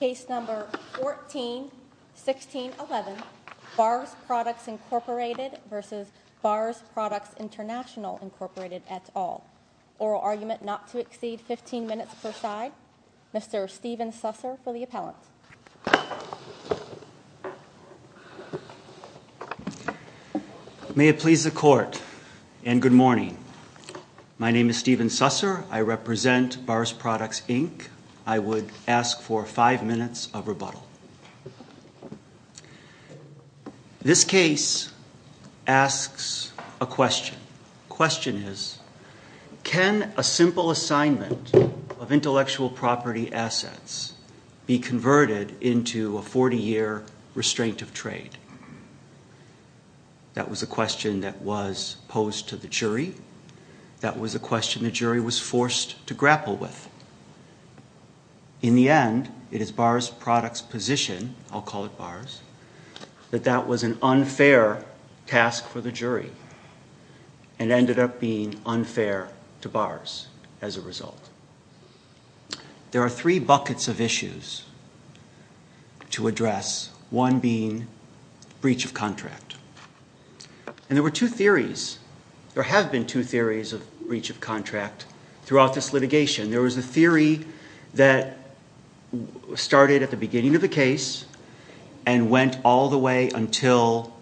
Case number 141611, Bars Products Inc v. Bars Products Intl Inc et al. Oral argument not to exceed 15 minutes per side. Mr. Stephen Susser for the appellant. May it please the court and good morning. My name is Stephen Susser. I represent Bars Products Inc. I would ask for five minutes of rebuttal. This case asks a question. The question is, can a simple assignment of intellectual property assets be converted into a 40-year restraint of trade? That was a question that was posed to the jury. That was a question the jury was forced to grapple with. In the end, it is Bars Products position, I'll call it Bars, that that was an unfair task for the jury and ended up being unfair to Bars as a result. There are three buckets of issues to address, one being breach of contract. And there were two theories, there have been two theories of breach of contract throughout this litigation. There was a theory that started at the beginning of the case and went all the way until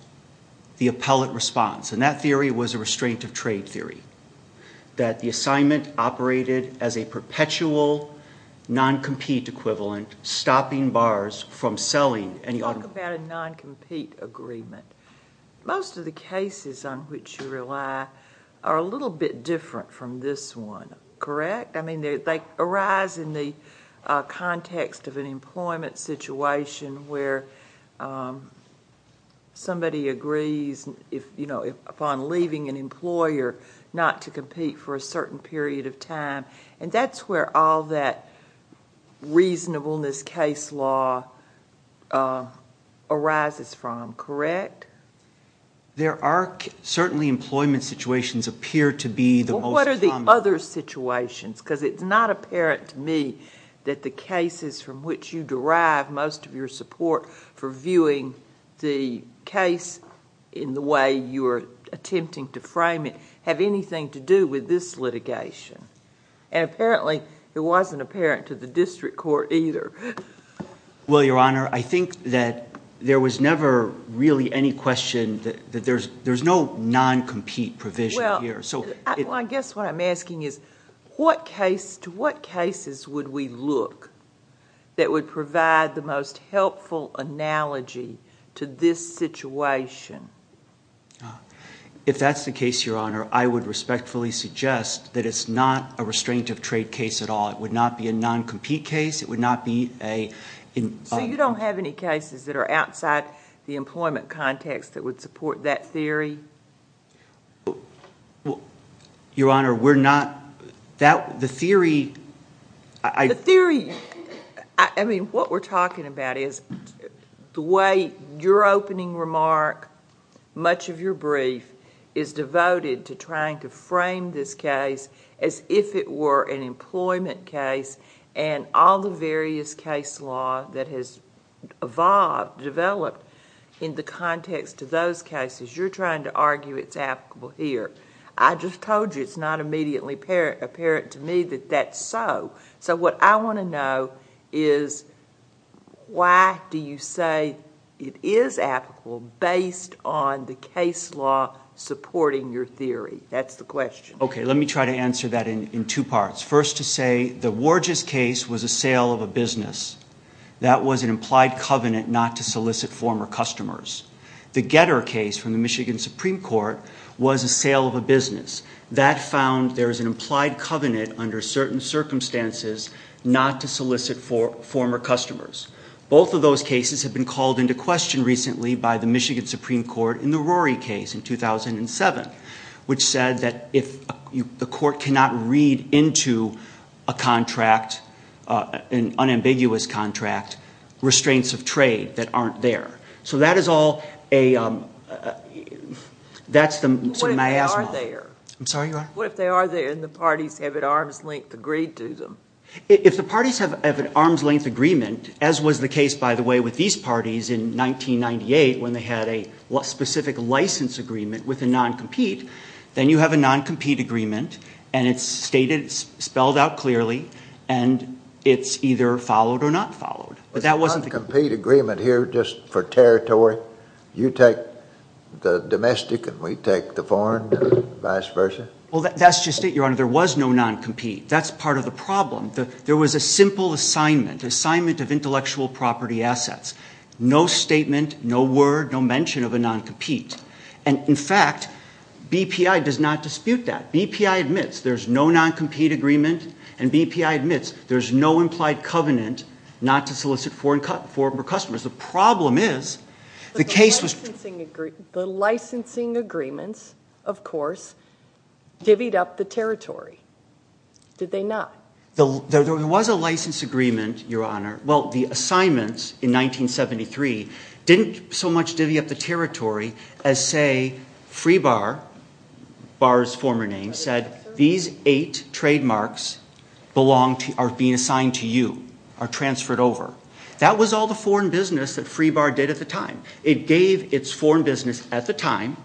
the appellant responds. And that theory was a restraint of trade theory. That the assignment operated as a perpetual non-compete equivalent, stopping Bars from selling. Talk about a non-compete agreement. Most of the cases on which you rely are a little bit different from this one, correct? I mean, they arise in the context of an employment situation where somebody agrees upon leaving an employer not to compete for a certain period of time. And that's where all that reasonableness case law arises from, correct? There are certainly employment situations appear to be the most common. Because it's not apparent to me that the cases from which you derive most of your support for viewing the case in the way you are attempting to frame it have anything to do with this litigation. And apparently, it wasn't apparent to the district court either. Well, Your Honor, I think that there was never really any question that there's no non-compete provision here. Well, I guess what I'm asking is, to what cases would we look that would provide the most helpful analogy to this situation? If that's the case, Your Honor, I would respectfully suggest that it's not a restraint of trade case at all. It would not be a non-compete case. So you don't have any cases that are outside the employment context that would support that theory? Well, Your Honor, we're not... the theory... The theory... I mean, what we're talking about is the way your opening remark, much of your brief, is devoted to trying to frame this case as if it were an employment case. And all the various case law that has evolved, developed in the context of those cases, you're trying to argue it's applicable here. I just told you it's not immediately apparent to me that that's so. So what I want to know is, why do you say it is applicable based on the case law supporting your theory? That's the question. Okay, let me try to answer that in two parts. First to say, the Worges case was a sale of a business. That was an implied covenant not to solicit former customers. The Getter case from the Michigan Supreme Court was a sale of a business. That found there is an implied covenant under certain circumstances not to solicit former customers. Both of those cases have been called into question recently by the Michigan Supreme Court in the Rory case in 2007, which said that if the court cannot read into a contract, an unambiguous contract, restraints of trade that aren't there. So that is all a, that's the miasma. What if they are there? I'm sorry, Your Honor? What if they are there and the parties have at arm's length agreed to them? If the parties have at arm's length agreement, as was the case, by the way, with these parties in 1998, when they had a specific license agreement with a non-compete, then you have a non-compete agreement, and it's stated, spelled out clearly, and it's either followed or not followed. But that wasn't the case. A non-compete agreement here just for territory? You take the domestic and we take the foreign and vice versa? Well, that's just it, Your Honor. There was no non-compete. That's part of the problem. There was a simple assignment, assignment of intellectual property assets. No statement, no word, no mention of a non-compete. And, in fact, BPI does not dispute that. BPI admits there's no non-compete agreement, and BPI admits there's no implied covenant not to solicit foreign customers. The problem is the case was- The licensing agreements, of course, divvied up the territory, did they not? There was a license agreement, Your Honor. Well, the assignments in 1973 didn't so much divvy up the territory as, say, Free Bar, Bar's former name, said these eight trademarks are being assigned to you, are transferred over. That was all the foreign business that Free Bar did at the time. It gave its foreign business at the time,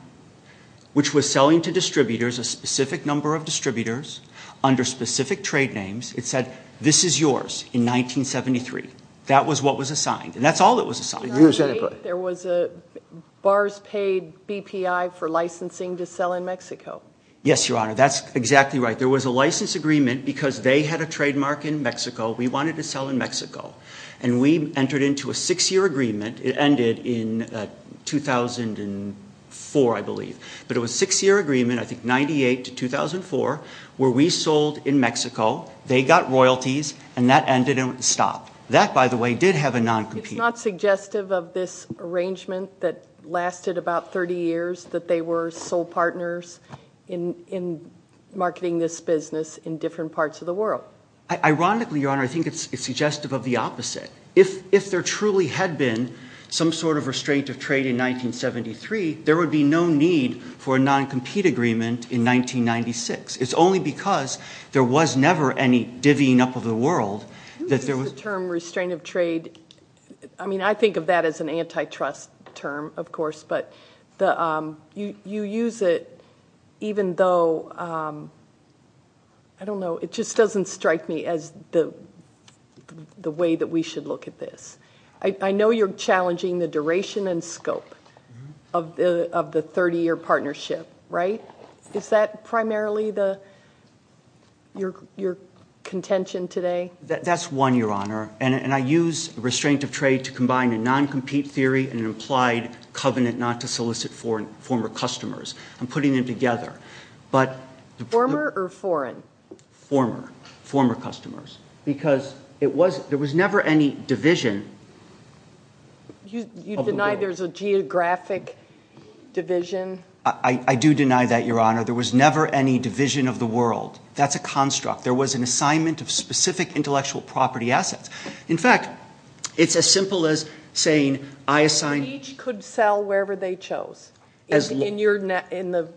which was selling to distributors, a specific number of distributors, under specific trade names, it said this is yours in 1973. That was what was assigned. And that's all that was assigned. There was a Bar's paid BPI for licensing to sell in Mexico. Yes, Your Honor. That's exactly right. There was a license agreement because they had a trademark in Mexico. We wanted to sell in Mexico, and we entered into a six-year agreement. It ended in 2004, I believe. But it was a six-year agreement, I think, 98 to 2004, where we sold in Mexico. They got royalties, and that ended and stopped. That, by the way, did have a non-compete. It's not suggestive of this arrangement that lasted about 30 years, that they were sole partners in marketing this business in different parts of the world. Ironically, Your Honor, I think it's suggestive of the opposite. If there truly had been some sort of restraint of trade in 1973, there would be no need for a non-compete agreement in 1996. It's only because there was never any divvying up of the world that there was... The term restraint of trade, I mean, I think of that as an antitrust term, of course, but you use it even though... I don't know. It just doesn't strike me as the way that we should look at this. I know you're challenging the duration and scope of the 30-year partnership, right? Is that primarily your contention today? That's one, Your Honor, and I use restraint of trade to combine a non-compete theory and an implied covenant not to solicit former customers. I'm putting them together. Former or foreign? Former. Former customers. Because there was never any division of the world. You deny there's a geographic division? I do deny that, Your Honor. There was never any division of the world. That's a construct. There was an assignment of specific intellectual property assets. In fact, it's as simple as saying I assigned... Each could sell wherever they chose in the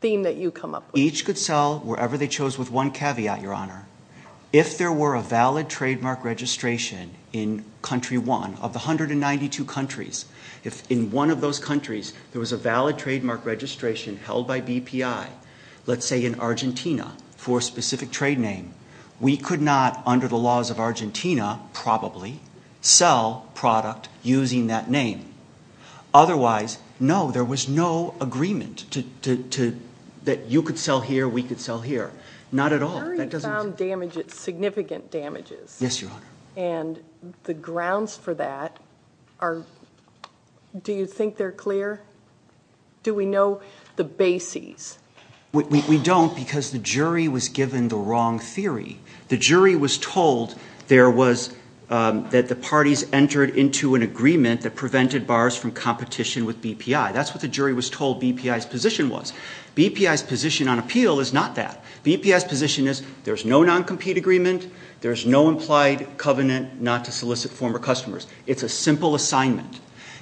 theme that you come up with. Each could sell wherever they chose with one caveat, Your Honor. If there were a valid trademark registration in country one of the 192 countries, if in one of those countries there was a valid trademark registration held by BPI, let's say in Argentina for a specific trade name, we could not under the laws of Argentina probably sell product using that name. Otherwise, no, there was no agreement that you could sell here, we could sell here. Not at all. The jury found significant damages. Yes, Your Honor. And the grounds for that are... do you think they're clear? Do we know the bases? We don't because the jury was given the wrong theory. The jury was told there was... that the parties entered into an agreement that prevented bars from competition with BPI. That's what the jury was told BPI's position was. BPI's position on appeal is not that. BPI's position is there's no non-compete agreement, there's no implied covenant not to solicit former customers. It's a simple assignment.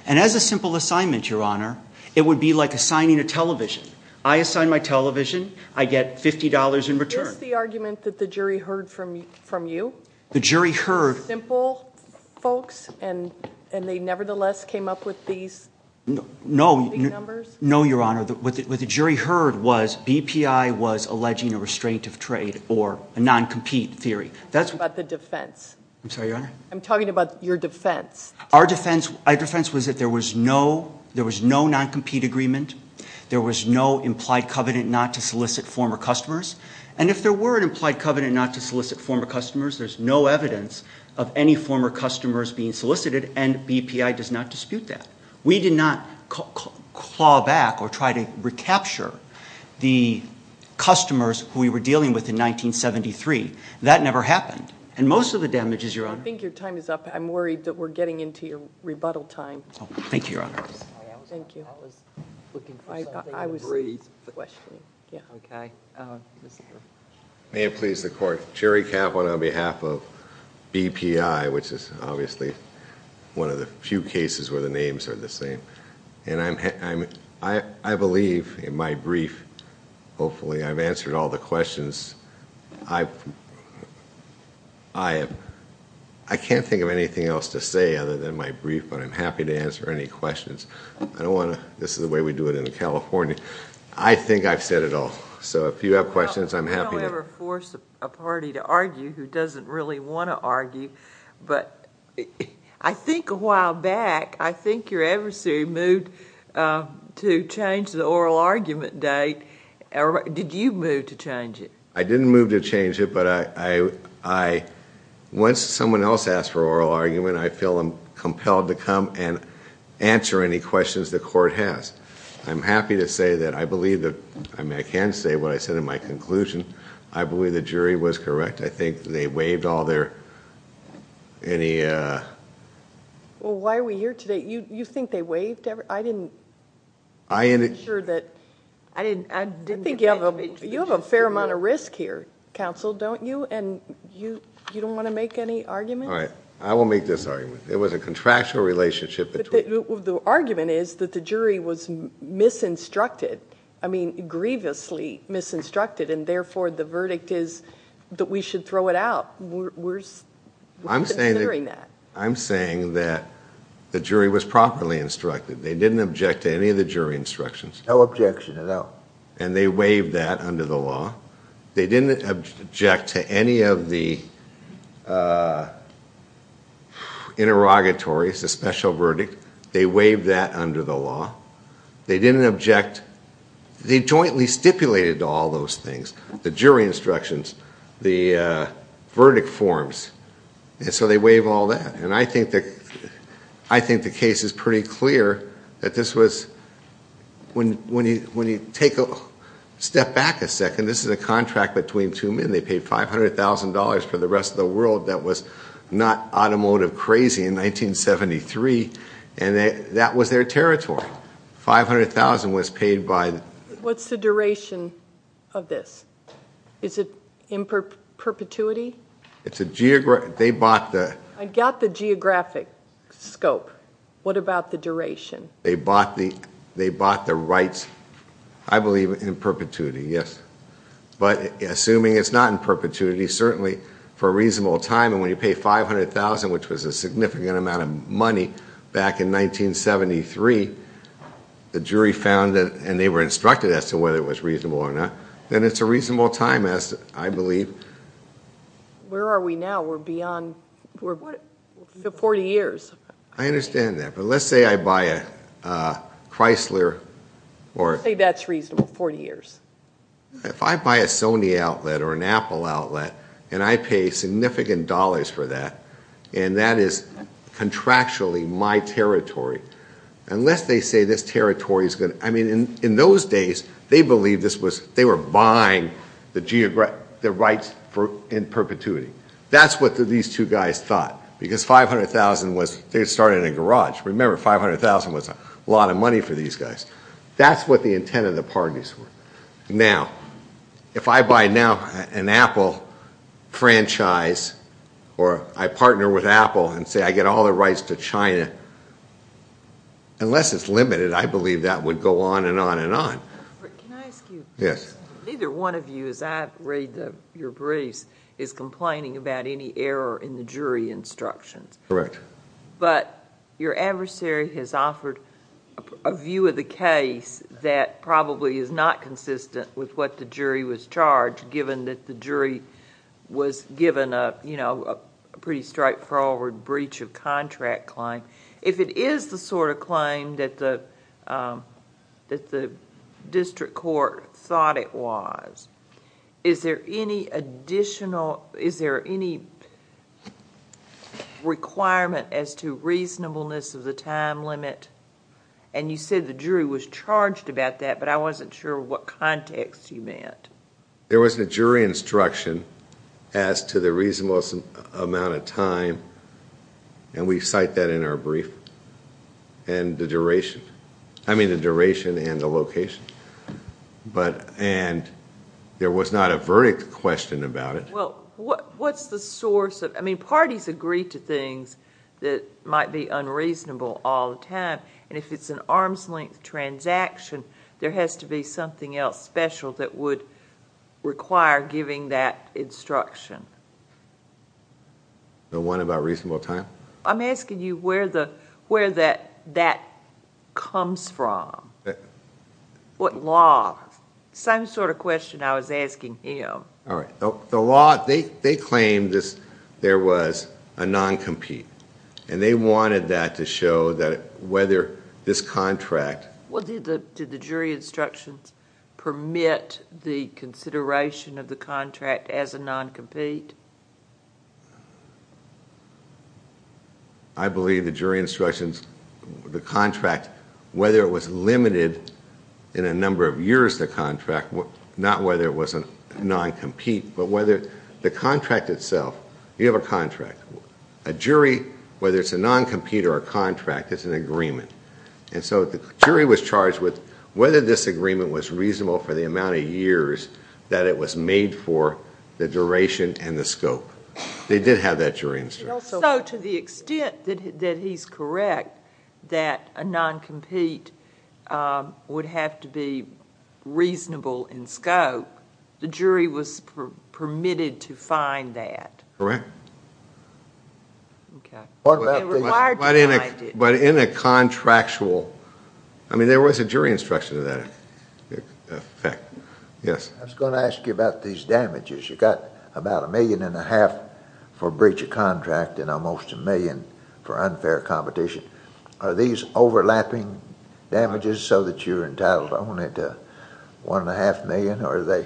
And as a simple assignment, Your Honor, it would be like assigning a television. I assign my television, I get $50 in return. Is this the argument that the jury heard from you? The jury heard... Simple folks and they nevertheless came up with these numbers? No, Your Honor. What the jury heard was BPI was alleging a restraint of trade or a non-compete theory. I'm talking about the defense. I'm sorry, Your Honor? I'm talking about your defense. Our defense was that there was no non-compete agreement, there was no implied covenant not to solicit former customers, and if there were an implied covenant not to solicit former customers, there's no evidence of any former customers being solicited, and BPI does not dispute that. We did not claw back or try to recapture the customers who we were dealing with in 1973. That never happened. And most of the damages, Your Honor... I think your time is up. I'm worried that we're getting into your rebuttal time. Thank you, Your Honor. Thank you. I was looking for something... I was... The question. Okay. Mr.... May it please the court. Jerry Catwin on behalf of BPI, which is obviously one of the few cases where the names are the same. I believe in my brief, hopefully I've answered all the questions. I can't think of anything else to say other than my brief, but I'm happy to answer any questions. I don't want to... This is the way we do it in California. I think I've said it all. So if you have questions, I'm happy to... You don't ever force a party to argue who doesn't really want to argue, but I think a while back, I think your adversary moved to change the oral argument date. Did you move to change it? I didn't move to change it, but I... Once someone else asks for oral argument, I feel I'm compelled to come and answer any questions the court has. I'm happy to say that I believe that... I mean, I can say what I said in my conclusion. I believe the jury was correct. I think they waived all their... Any... Well, why are we here today? You think they waived every... I didn't... I... I'm sure that... I didn't... You have a fair amount of risk here, counsel, don't you? And you don't want to make any arguments? All right. I will make this argument. There was a contractual relationship between... The argument is that the jury was misinstructed, I mean grievously misinstructed, and therefore the verdict is that we should throw it out. We're considering that. I'm saying that the jury was properly instructed. They didn't object to any of the jury instructions. No objection at all. And they waived that under the law. They didn't object to any of the interrogatories, the special verdict. They waived that under the law. They didn't object... They jointly stipulated all those things, the jury instructions, the verdict forms, and so they waived all that. And I think the case is pretty clear that this was... When you take a step back a second, this is a contract between two men. They paid $500,000 for the rest of the world. That was not automotive crazy in 1973, and that was their territory. $500,000 was paid by... What's the duration of this? Is it in perpetuity? It's a... They bought the... I got the geographic scope. What about the duration? They bought the rights, I believe, in perpetuity, yes. But assuming it's not in perpetuity, certainly for a reasonable time, and when you pay $500,000, which was a significant amount of money back in 1973, the jury found that... And they were instructed as to whether it was reasonable or not. Then it's a reasonable time, I believe. Where are we now? We're beyond... We're 40 years. I understand that, but let's say I buy a Chrysler or... Let's say that's reasonable, 40 years. If I buy a Sony outlet or an Apple outlet, and I pay significant dollars for that, and that is contractually my territory, unless they say this territory is going to... I mean, in those days, they believed this was... They were buying the rights in perpetuity. That's what these two guys thought, because $500,000 was... They started in a garage. Remember, $500,000 was a lot of money for these guys. That's what the intent of the parties were. Now, if I buy now an Apple franchise, or I partner with Apple and say I get all the rights to China, unless it's limited, I believe that would go on and on and on. Can I ask you... Yes. Neither one of you, as I read your briefs, is complaining about any error in the jury instructions. Correct. But your adversary has offered a view of the case that probably is not consistent with what the jury was charged, given that the jury was given a pretty straightforward breach of contract claim. If it is the sort of claim that the district court thought it was, is there any additional... Is there any requirement as to reasonableness of the time limit? You said the jury was charged about that, but I wasn't sure what context you meant. There was a jury instruction as to the reasonableness amount of time, and we cite that in our brief, and the duration. I mean the duration and the location, and there was not a verdict question about it. Well, what's the source of... And if it's an arm's length transaction, there has to be something else special that would require giving that instruction. The one about reasonable time? I'm asking you where that comes from. What law? Same sort of question I was asking him. All right. The law... They claimed there was a non-compete, and they wanted that to show that whether this contract... Well, did the jury instructions permit the consideration of the contract as a non-compete? I believe the jury instructions, the contract, whether it was limited in a number of years the contract, not whether it was a non-compete, but whether the contract itself... You have a contract. A jury, whether it's a non-compete or a contract, it's an agreement. And so the jury was charged with whether this agreement was reasonable for the amount of years that it was made for, the duration, and the scope. They did have that jury instruction. So to the extent that he's correct, that a non-compete would have to be reasonable in scope, the jury was permitted to find that? Correct. Okay. But in a contractual... I mean, there was a jury instruction to that effect. Yes? I was going to ask you about these damages. You got about a million and a half for breach of contract and almost a million for unfair competition. Are these overlapping damages so that you're entitled only to one and a half million, or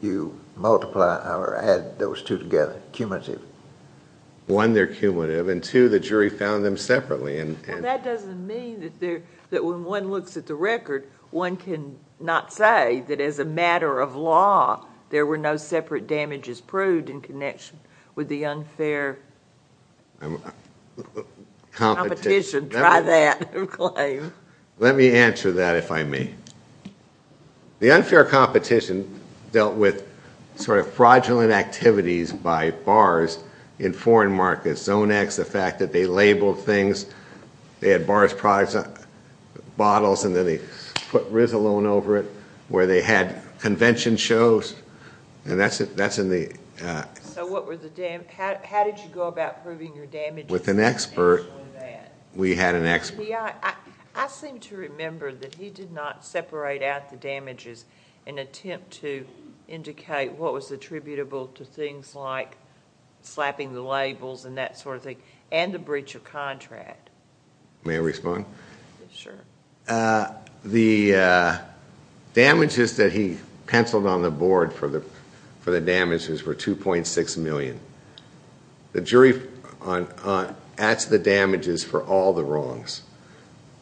you multiply or add those two together, cumulative? One, they're cumulative, and two, the jury found them separately. That doesn't mean that when one looks at the record, one can not say that as a matter of law, there were no separate damages proved in connection with the unfair competition. Try that claim. Let me answer that, if I may. The unfair competition dealt with fraudulent activities by bars in foreign markets. Zone X, the fact that they labeled things. They had bars' products, bottles, and then they put Rizalone over it, where they had convention shows, and that's in the... So how did you go about proving your damages? With an expert. We had an expert. I seem to remember that he did not separate out the damages in an attempt to indicate what was attributable to things like slapping the labels and that sort of thing and the breach of contract. May I respond? Sure. The damages that he penciled on the board for the damages were $2.6 million. The jury adds the damages for all the wrongs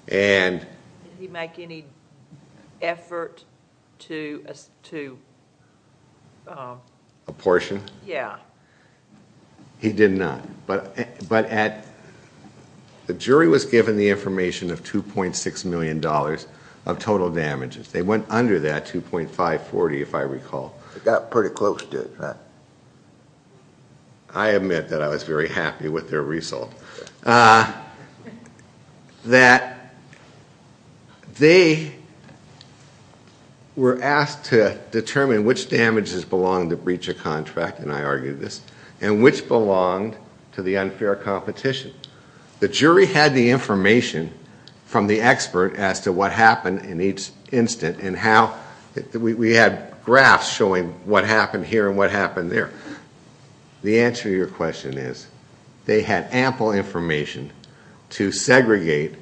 and... Did he make any effort to... Apportion? Yeah. He did not, but the jury was given the information of $2.6 million of total damages. They went under that $2.540, if I recall. They got pretty close to it. I admit that I was very happy with their result. They were asked to determine which damages belonged to breach of contract, and I argued this, and which belonged to the unfair competition. The jury had the information from the expert as to what happened in each instant and how... we had graphs showing what happened here and what happened there. The answer to your question is they had ample information to segregate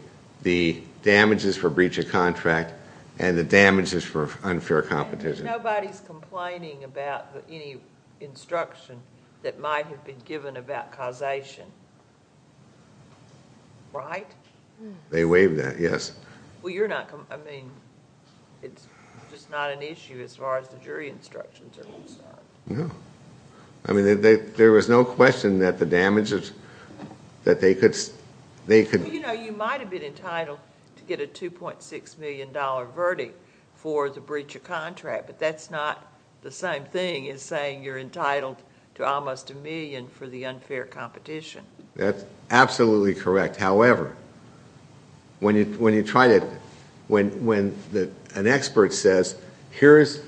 the damages for breach of contract and the damages for unfair competition. Nobody's complaining about any instruction that might have been given about causation, right? They waived that, yes. Well, you're not... I mean, it's just not an issue as far as the jury instructions are concerned. No. I mean, there was no question that the damages... that they could... You know, you might have been entitled to get a $2.6 million verdict for the breach of contract, but that's not the same thing as saying you're entitled to almost a million for the unfair competition. That's absolutely correct. However, when you try to... when an expert says, here's...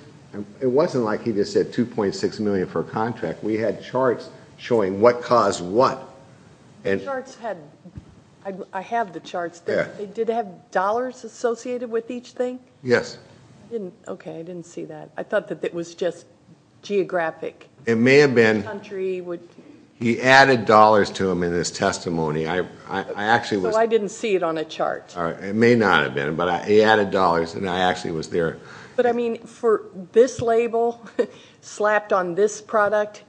it wasn't like he just said $2.6 million for a contract. We had charts showing what caused what. The charts had... I have the charts. They did have dollars associated with each thing? Yes. I didn't... okay, I didn't see that. I thought that it was just geographic. It may have been... Country would... He added dollars to them in his testimony. I actually was... I didn't see it on a chart. It may not have been, but he added dollars, and I actually was there. But, I mean, for this label slapped on this product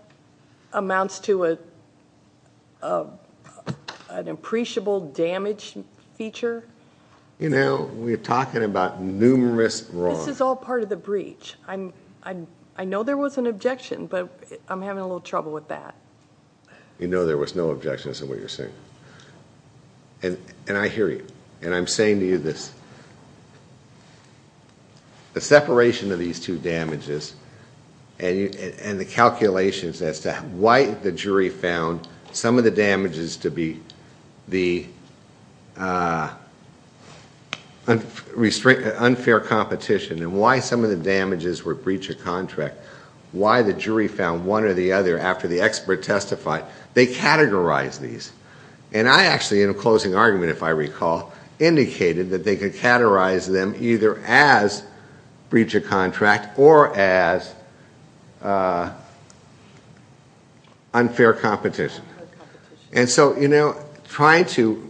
amounts to an appreciable damage feature? You know, we're talking about numerous wrongs. This is all part of the breach. I know there was an objection, but I'm having a little trouble with that. You know there was no objections in what you're saying. And I hear you, and I'm saying to you this. The separation of these two damages and the calculations as to why the jury found some of the damages to be the unfair competition and why some of the damages were breach of contract, why the jury found one or the other after the expert testified, they categorized these. And I actually, in a closing argument if I recall, indicated that they could categorize them either as breach of contract or as unfair competition. And so, you know, trying to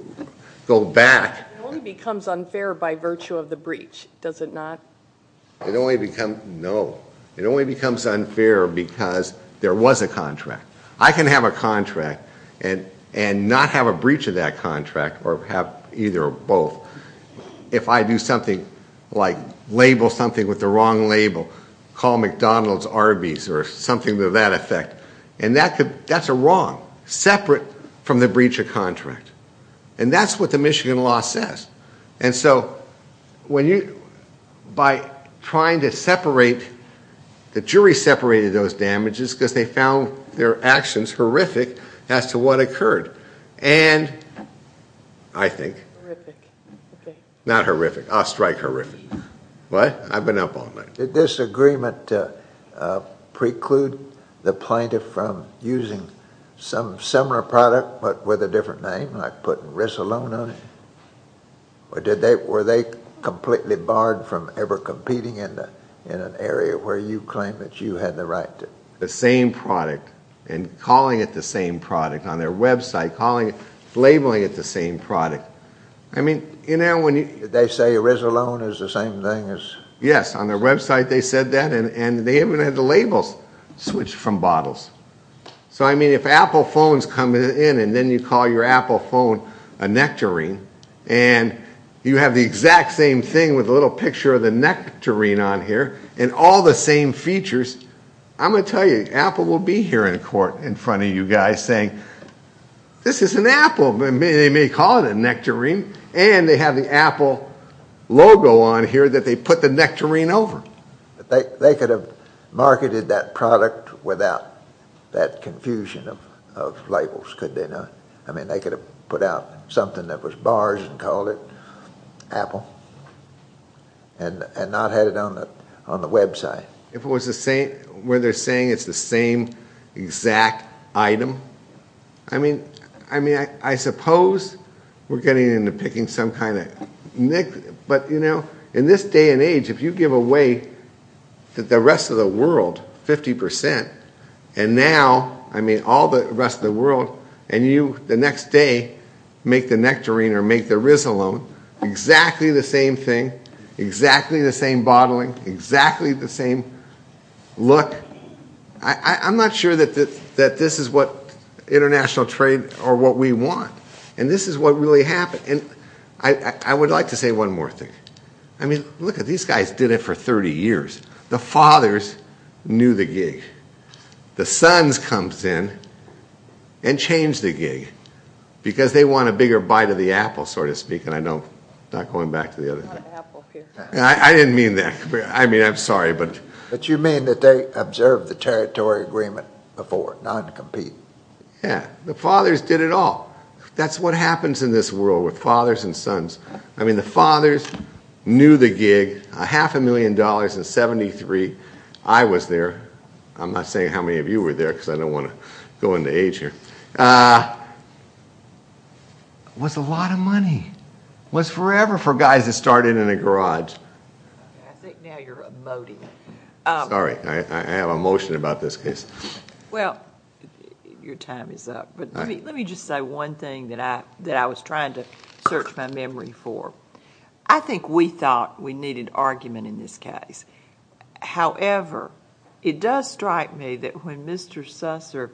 go back... It only becomes unfair by virtue of the breach, does it not? It only becomes... no. It only becomes unfair because there was a contract. I can have a contract and not have a breach of that contract or have either or both if I do something like label something with the wrong label, call McDonald's Arby's or something to that effect. And that's a wrong, separate from the breach of contract. And that's what the Michigan law says. And so when you... by trying to separate... the jury separated those damages because they found their actions horrific as to what occurred. And I think... Horrific. Not horrific. I'll strike horrific. What? I've been up all night. Did this agreement preclude the plaintiff from using some similar product but with a different name? Like putting Risolon on it? Or did they... were they completely barred from ever competing in an area where you claim that you had the right to... The same product and calling it the same product on their website, calling it... labeling it the same product. I mean, you know, when you... Did they say Risolon is the same thing as... Yes, on their website they said that and they even had the labels switched from bottles. So, I mean, if Apple phones come in and then you call your Apple phone a Nectarine and you have the exact same thing with a little picture of the Nectarine on here and all the same features, I'm going to tell you, Apple will be here in court in front of you guys saying, This is an Apple. They may call it a Nectarine and they have the Apple logo on here that they put the Nectarine over. They could have marketed that product without that confusion of labels, could they not? I mean, they could have put out something that was barred and called it Apple and not had it on the website. If it was the same... where they're saying it's the same exact item. I mean, I suppose we're getting into picking some kind of... But, you know, in this day and age, if you give away the rest of the world, 50%, and now, I mean, all the rest of the world, and you the next day make the Nectarine or make the Risolon, exactly the same thing, exactly the same bottling, exactly the same look, I'm not sure that this is what international trade or what we want. And this is what really happened. I would like to say one more thing. I mean, look, these guys did it for 30 years. The fathers knew the gig. The sons come in and change the gig because they want a bigger bite of the Apple, so to speak. And I know, not going back to the other... I didn't mean that. I mean, I'm sorry, but... But you mean that they observed the territory agreement before, not to compete. Yeah. The fathers did it all. That's what happens in this world with fathers and sons. I mean, the fathers knew the gig, a half a million dollars in 73. I was there. I'm not saying how many of you were there because I don't want to go into age here. It was a lot of money. It was forever for guys that started in a garage. I think now you're emoting. Sorry. I have emotion about this case. Well, your time is up. Let me just say one thing that I was trying to search my memory for. I think we thought we needed argument in this case. However, it does strike me that when Mr. Susser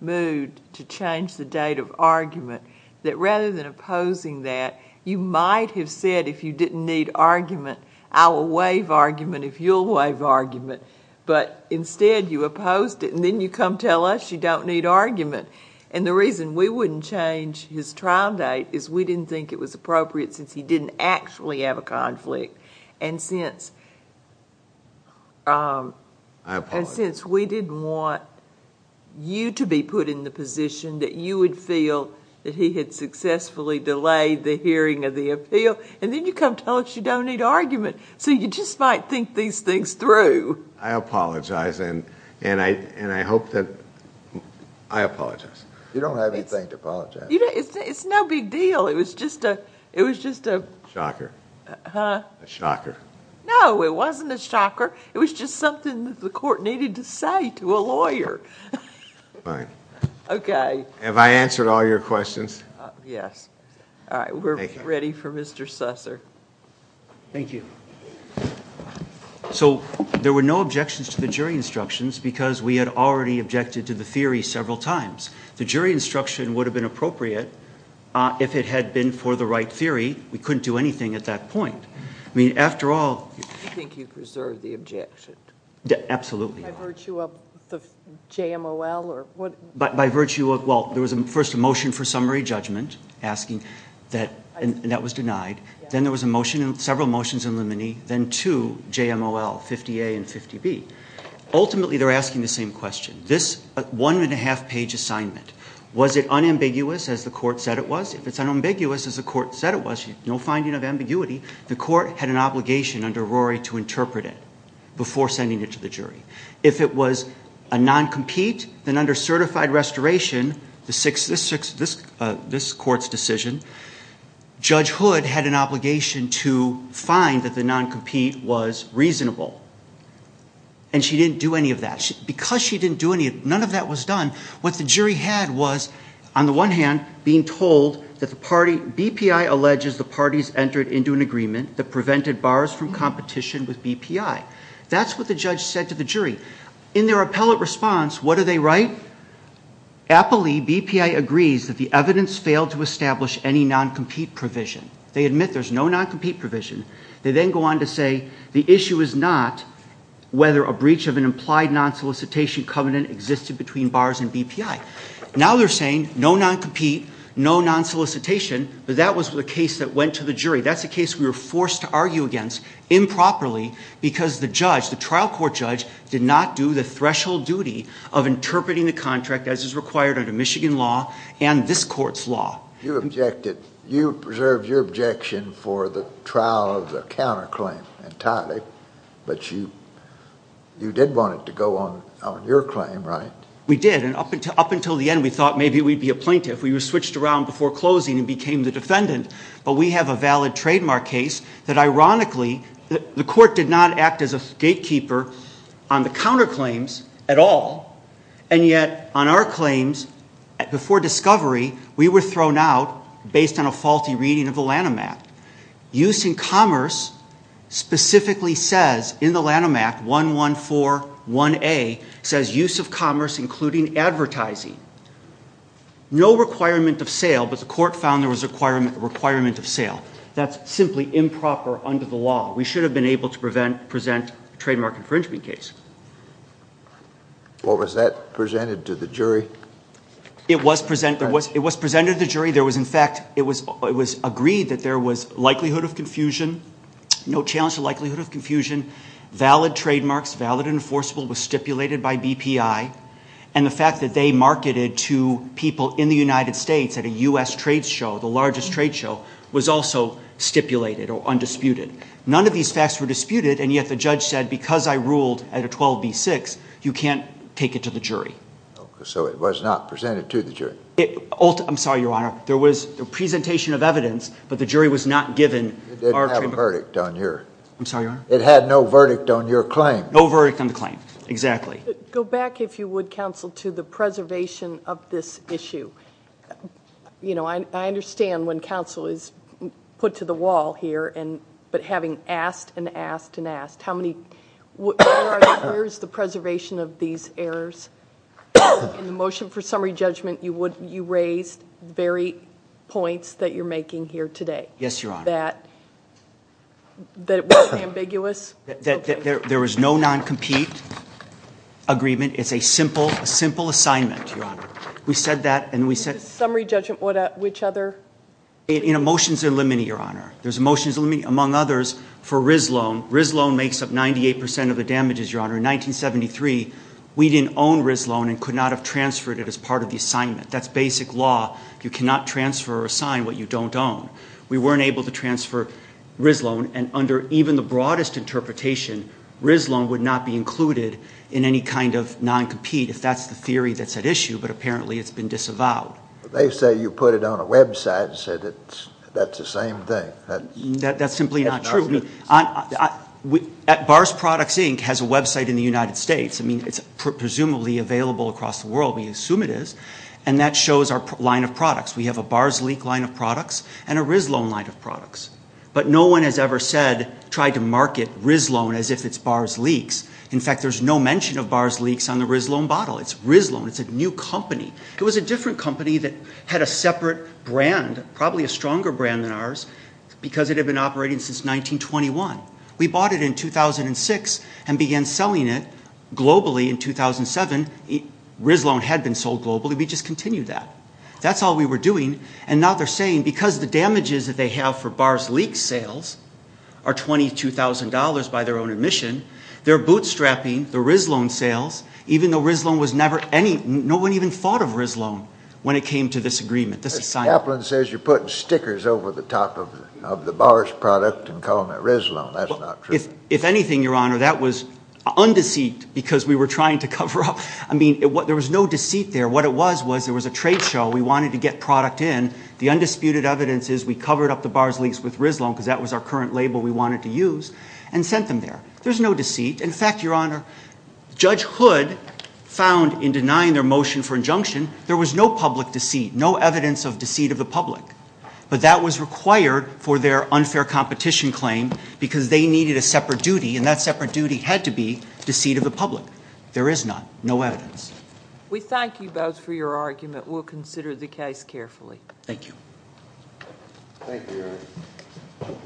moved to change the date of argument, that rather than opposing that, you might have said if you didn't need argument, I'll waive argument if you'll waive argument. But instead, you opposed it, and then you come tell us you don't need argument. And the reason we wouldn't change his trial date is we didn't think it was appropriate since he didn't actually have a conflict. And since we didn't want you to be put in the position that you would feel that he had successfully delayed the hearing of the appeal, and then you come tell us you don't need argument. So you just might think these things through. I apologize, and I hope that... I apologize. You don't have anything to apologize for. It's no big deal. It was just a... Shocker. Huh? A shocker. No, it wasn't a shocker. It was just something that the court needed to say to a lawyer. Fine. Okay. Have I answered all your questions? Yes. All right. We're ready for Mr. Susser. Thank you. So there were no objections to the jury instructions because we had already objected to the theory several times. The jury instruction would have been appropriate if it had been for the right theory. We couldn't do anything at that point. I mean, after all... Do you think you preserved the objection? Absolutely. By virtue of the JMOL or what... By virtue of... Well, there was first a motion for summary judgment asking that... and that was denied. Then there was a motion and several motions in limine. Then two JMOL, 50A and 50B. Ultimately, they're asking the same question. This one and a half page assignment, was it unambiguous as the court said it was? If it's unambiguous as the court said it was, no finding of ambiguity, the court had an obligation under Rory to interpret it before sending it to the jury. If it was a non-compete, then under certified restoration, this court's decision, Judge Hood had an obligation to find that the non-compete was reasonable. And she didn't do any of that. Because she didn't do any of... none of that was done, what the jury had was, on the one hand, being told that the party... BPI alleges the parties entered into an agreement that prevented bars from competition with BPI. That's what the judge said to the jury. In their appellate response, what do they write? Appellee BPI agrees that the evidence failed to establish any non-compete provision. They admit there's no non-compete provision. They then go on to say, the issue is not whether a breach of an implied non-solicitation covenant existed between bars and BPI. Now they're saying, no non-compete, no non-solicitation, but that was the case that went to the jury. That's the case we were forced to argue against improperly because the judge, the trial court judge, did not do the threshold duty of interpreting the contract as is required under Michigan law and this court's law. You objected... you preserved your objection for the trial of the counterclaim, entirely. But you... you did want it to go on your claim, right? We did. And up until the end, we thought maybe we'd be a plaintiff. We were switched around before closing and became the defendant. But we have a valid trademark case that, ironically, the court did not act as a gatekeeper on the counterclaims at all. And yet, on our claims, before discovery, we were thrown out based on a faulty reading of the Lanham Act. Use in commerce specifically says in the Lanham Act, 1141A, says use of commerce including advertising. No requirement of sale, but the court found there was a requirement of sale. That's simply improper under the law. We should have been able to present a trademark infringement case. Well, was that presented to the jury? It was presented to the jury. There was, in fact, it was agreed that there was likelihood of confusion, no challenge to likelihood of confusion, valid trademarks, valid and enforceable, was stipulated by BPI. And the fact that they marketed to people in the United States at a US trade show, the largest trade show, was also stipulated or undisputed. None of these facts were disputed, and yet the judge said, because I ruled at a 12B6, you can't take it to the jury. So it was not presented to the jury? I'm sorry, Your Honor. There was a presentation of evidence, but the jury was not given our trademark. It didn't have a verdict on your... I'm sorry, Your Honor. It had no verdict on your claim. No verdict on the claim, exactly. Go back, if you would, counsel, to the preservation of this issue. You know, I understand when counsel is put to the wall here, but having asked and asked and asked, how many... Where is the preservation of these errors? In the motion for summary judgment, you raised the very points that you're making here today. Yes, Your Honor. That it was ambiguous. That there was no non-compete agreement. It's a simple assignment, Your Honor. We said that, and we said... Summary judgment, which other... In a motion to eliminate, Your Honor. There's a motion to eliminate, among others, for RIS loan. RIS loan makes up 98% of the damages, Your Honor. In 1973, we didn't own RIS loan and could not have transferred it as part of the assignment. That's basic law. You cannot transfer or assign what you don't own. We weren't able to transfer RIS loan, and under even the broadest interpretation, RIS loan would not be included in any kind of non-compete if that's the theory that's at issue, but apparently it's been disavowed. They say you put it on a website and said that's the same thing. That's simply not true. Bars Products, Inc. has a website in the United States. I mean, it's presumably available across the world. We assume it is, and that shows our line of products. And a RIS loan line of products. But no one has ever said, tried to market RIS loan as if it's Bars Leaks. In fact, there's no mention of Bars Leaks on the RIS loan bottle. It's RIS loan. It's a new company. It was a different company that had a separate brand, probably a stronger brand than ours, because it had been operating since 1921. We bought it in 2006 and began selling it globally in 2007. RIS loan had been sold globally. We just continued that. That's all we were doing. And now they're saying because the damages that they have for Bars Leaks sales are $22,000 by their own admission, they're bootstrapping the RIS loan sales, even though RIS loan was never any, no one even thought of RIS loan when it came to this agreement. The chaplain says you're putting stickers over the top of the Bars product and calling it RIS loan. That's not true. If anything, Your Honor, that was undeceived because we were trying to cover up. I mean, there was no deceit there. What it was was there was a trade show. We wanted to get product in. The undisputed evidence is we covered up the Bars Leaks with RIS loan because that was our current label we wanted to use and sent them there. There's no deceit. In fact, Your Honor, Judge Hood found in denying their motion for injunction there was no public deceit, no evidence of deceit of the public, but that was required for their unfair competition claim because they needed a separate duty, and that separate duty had to be deceit of the public. There is none, no evidence. We thank you both for your argument. We'll consider the case carefully. Thank you. Thank you, Your Honor.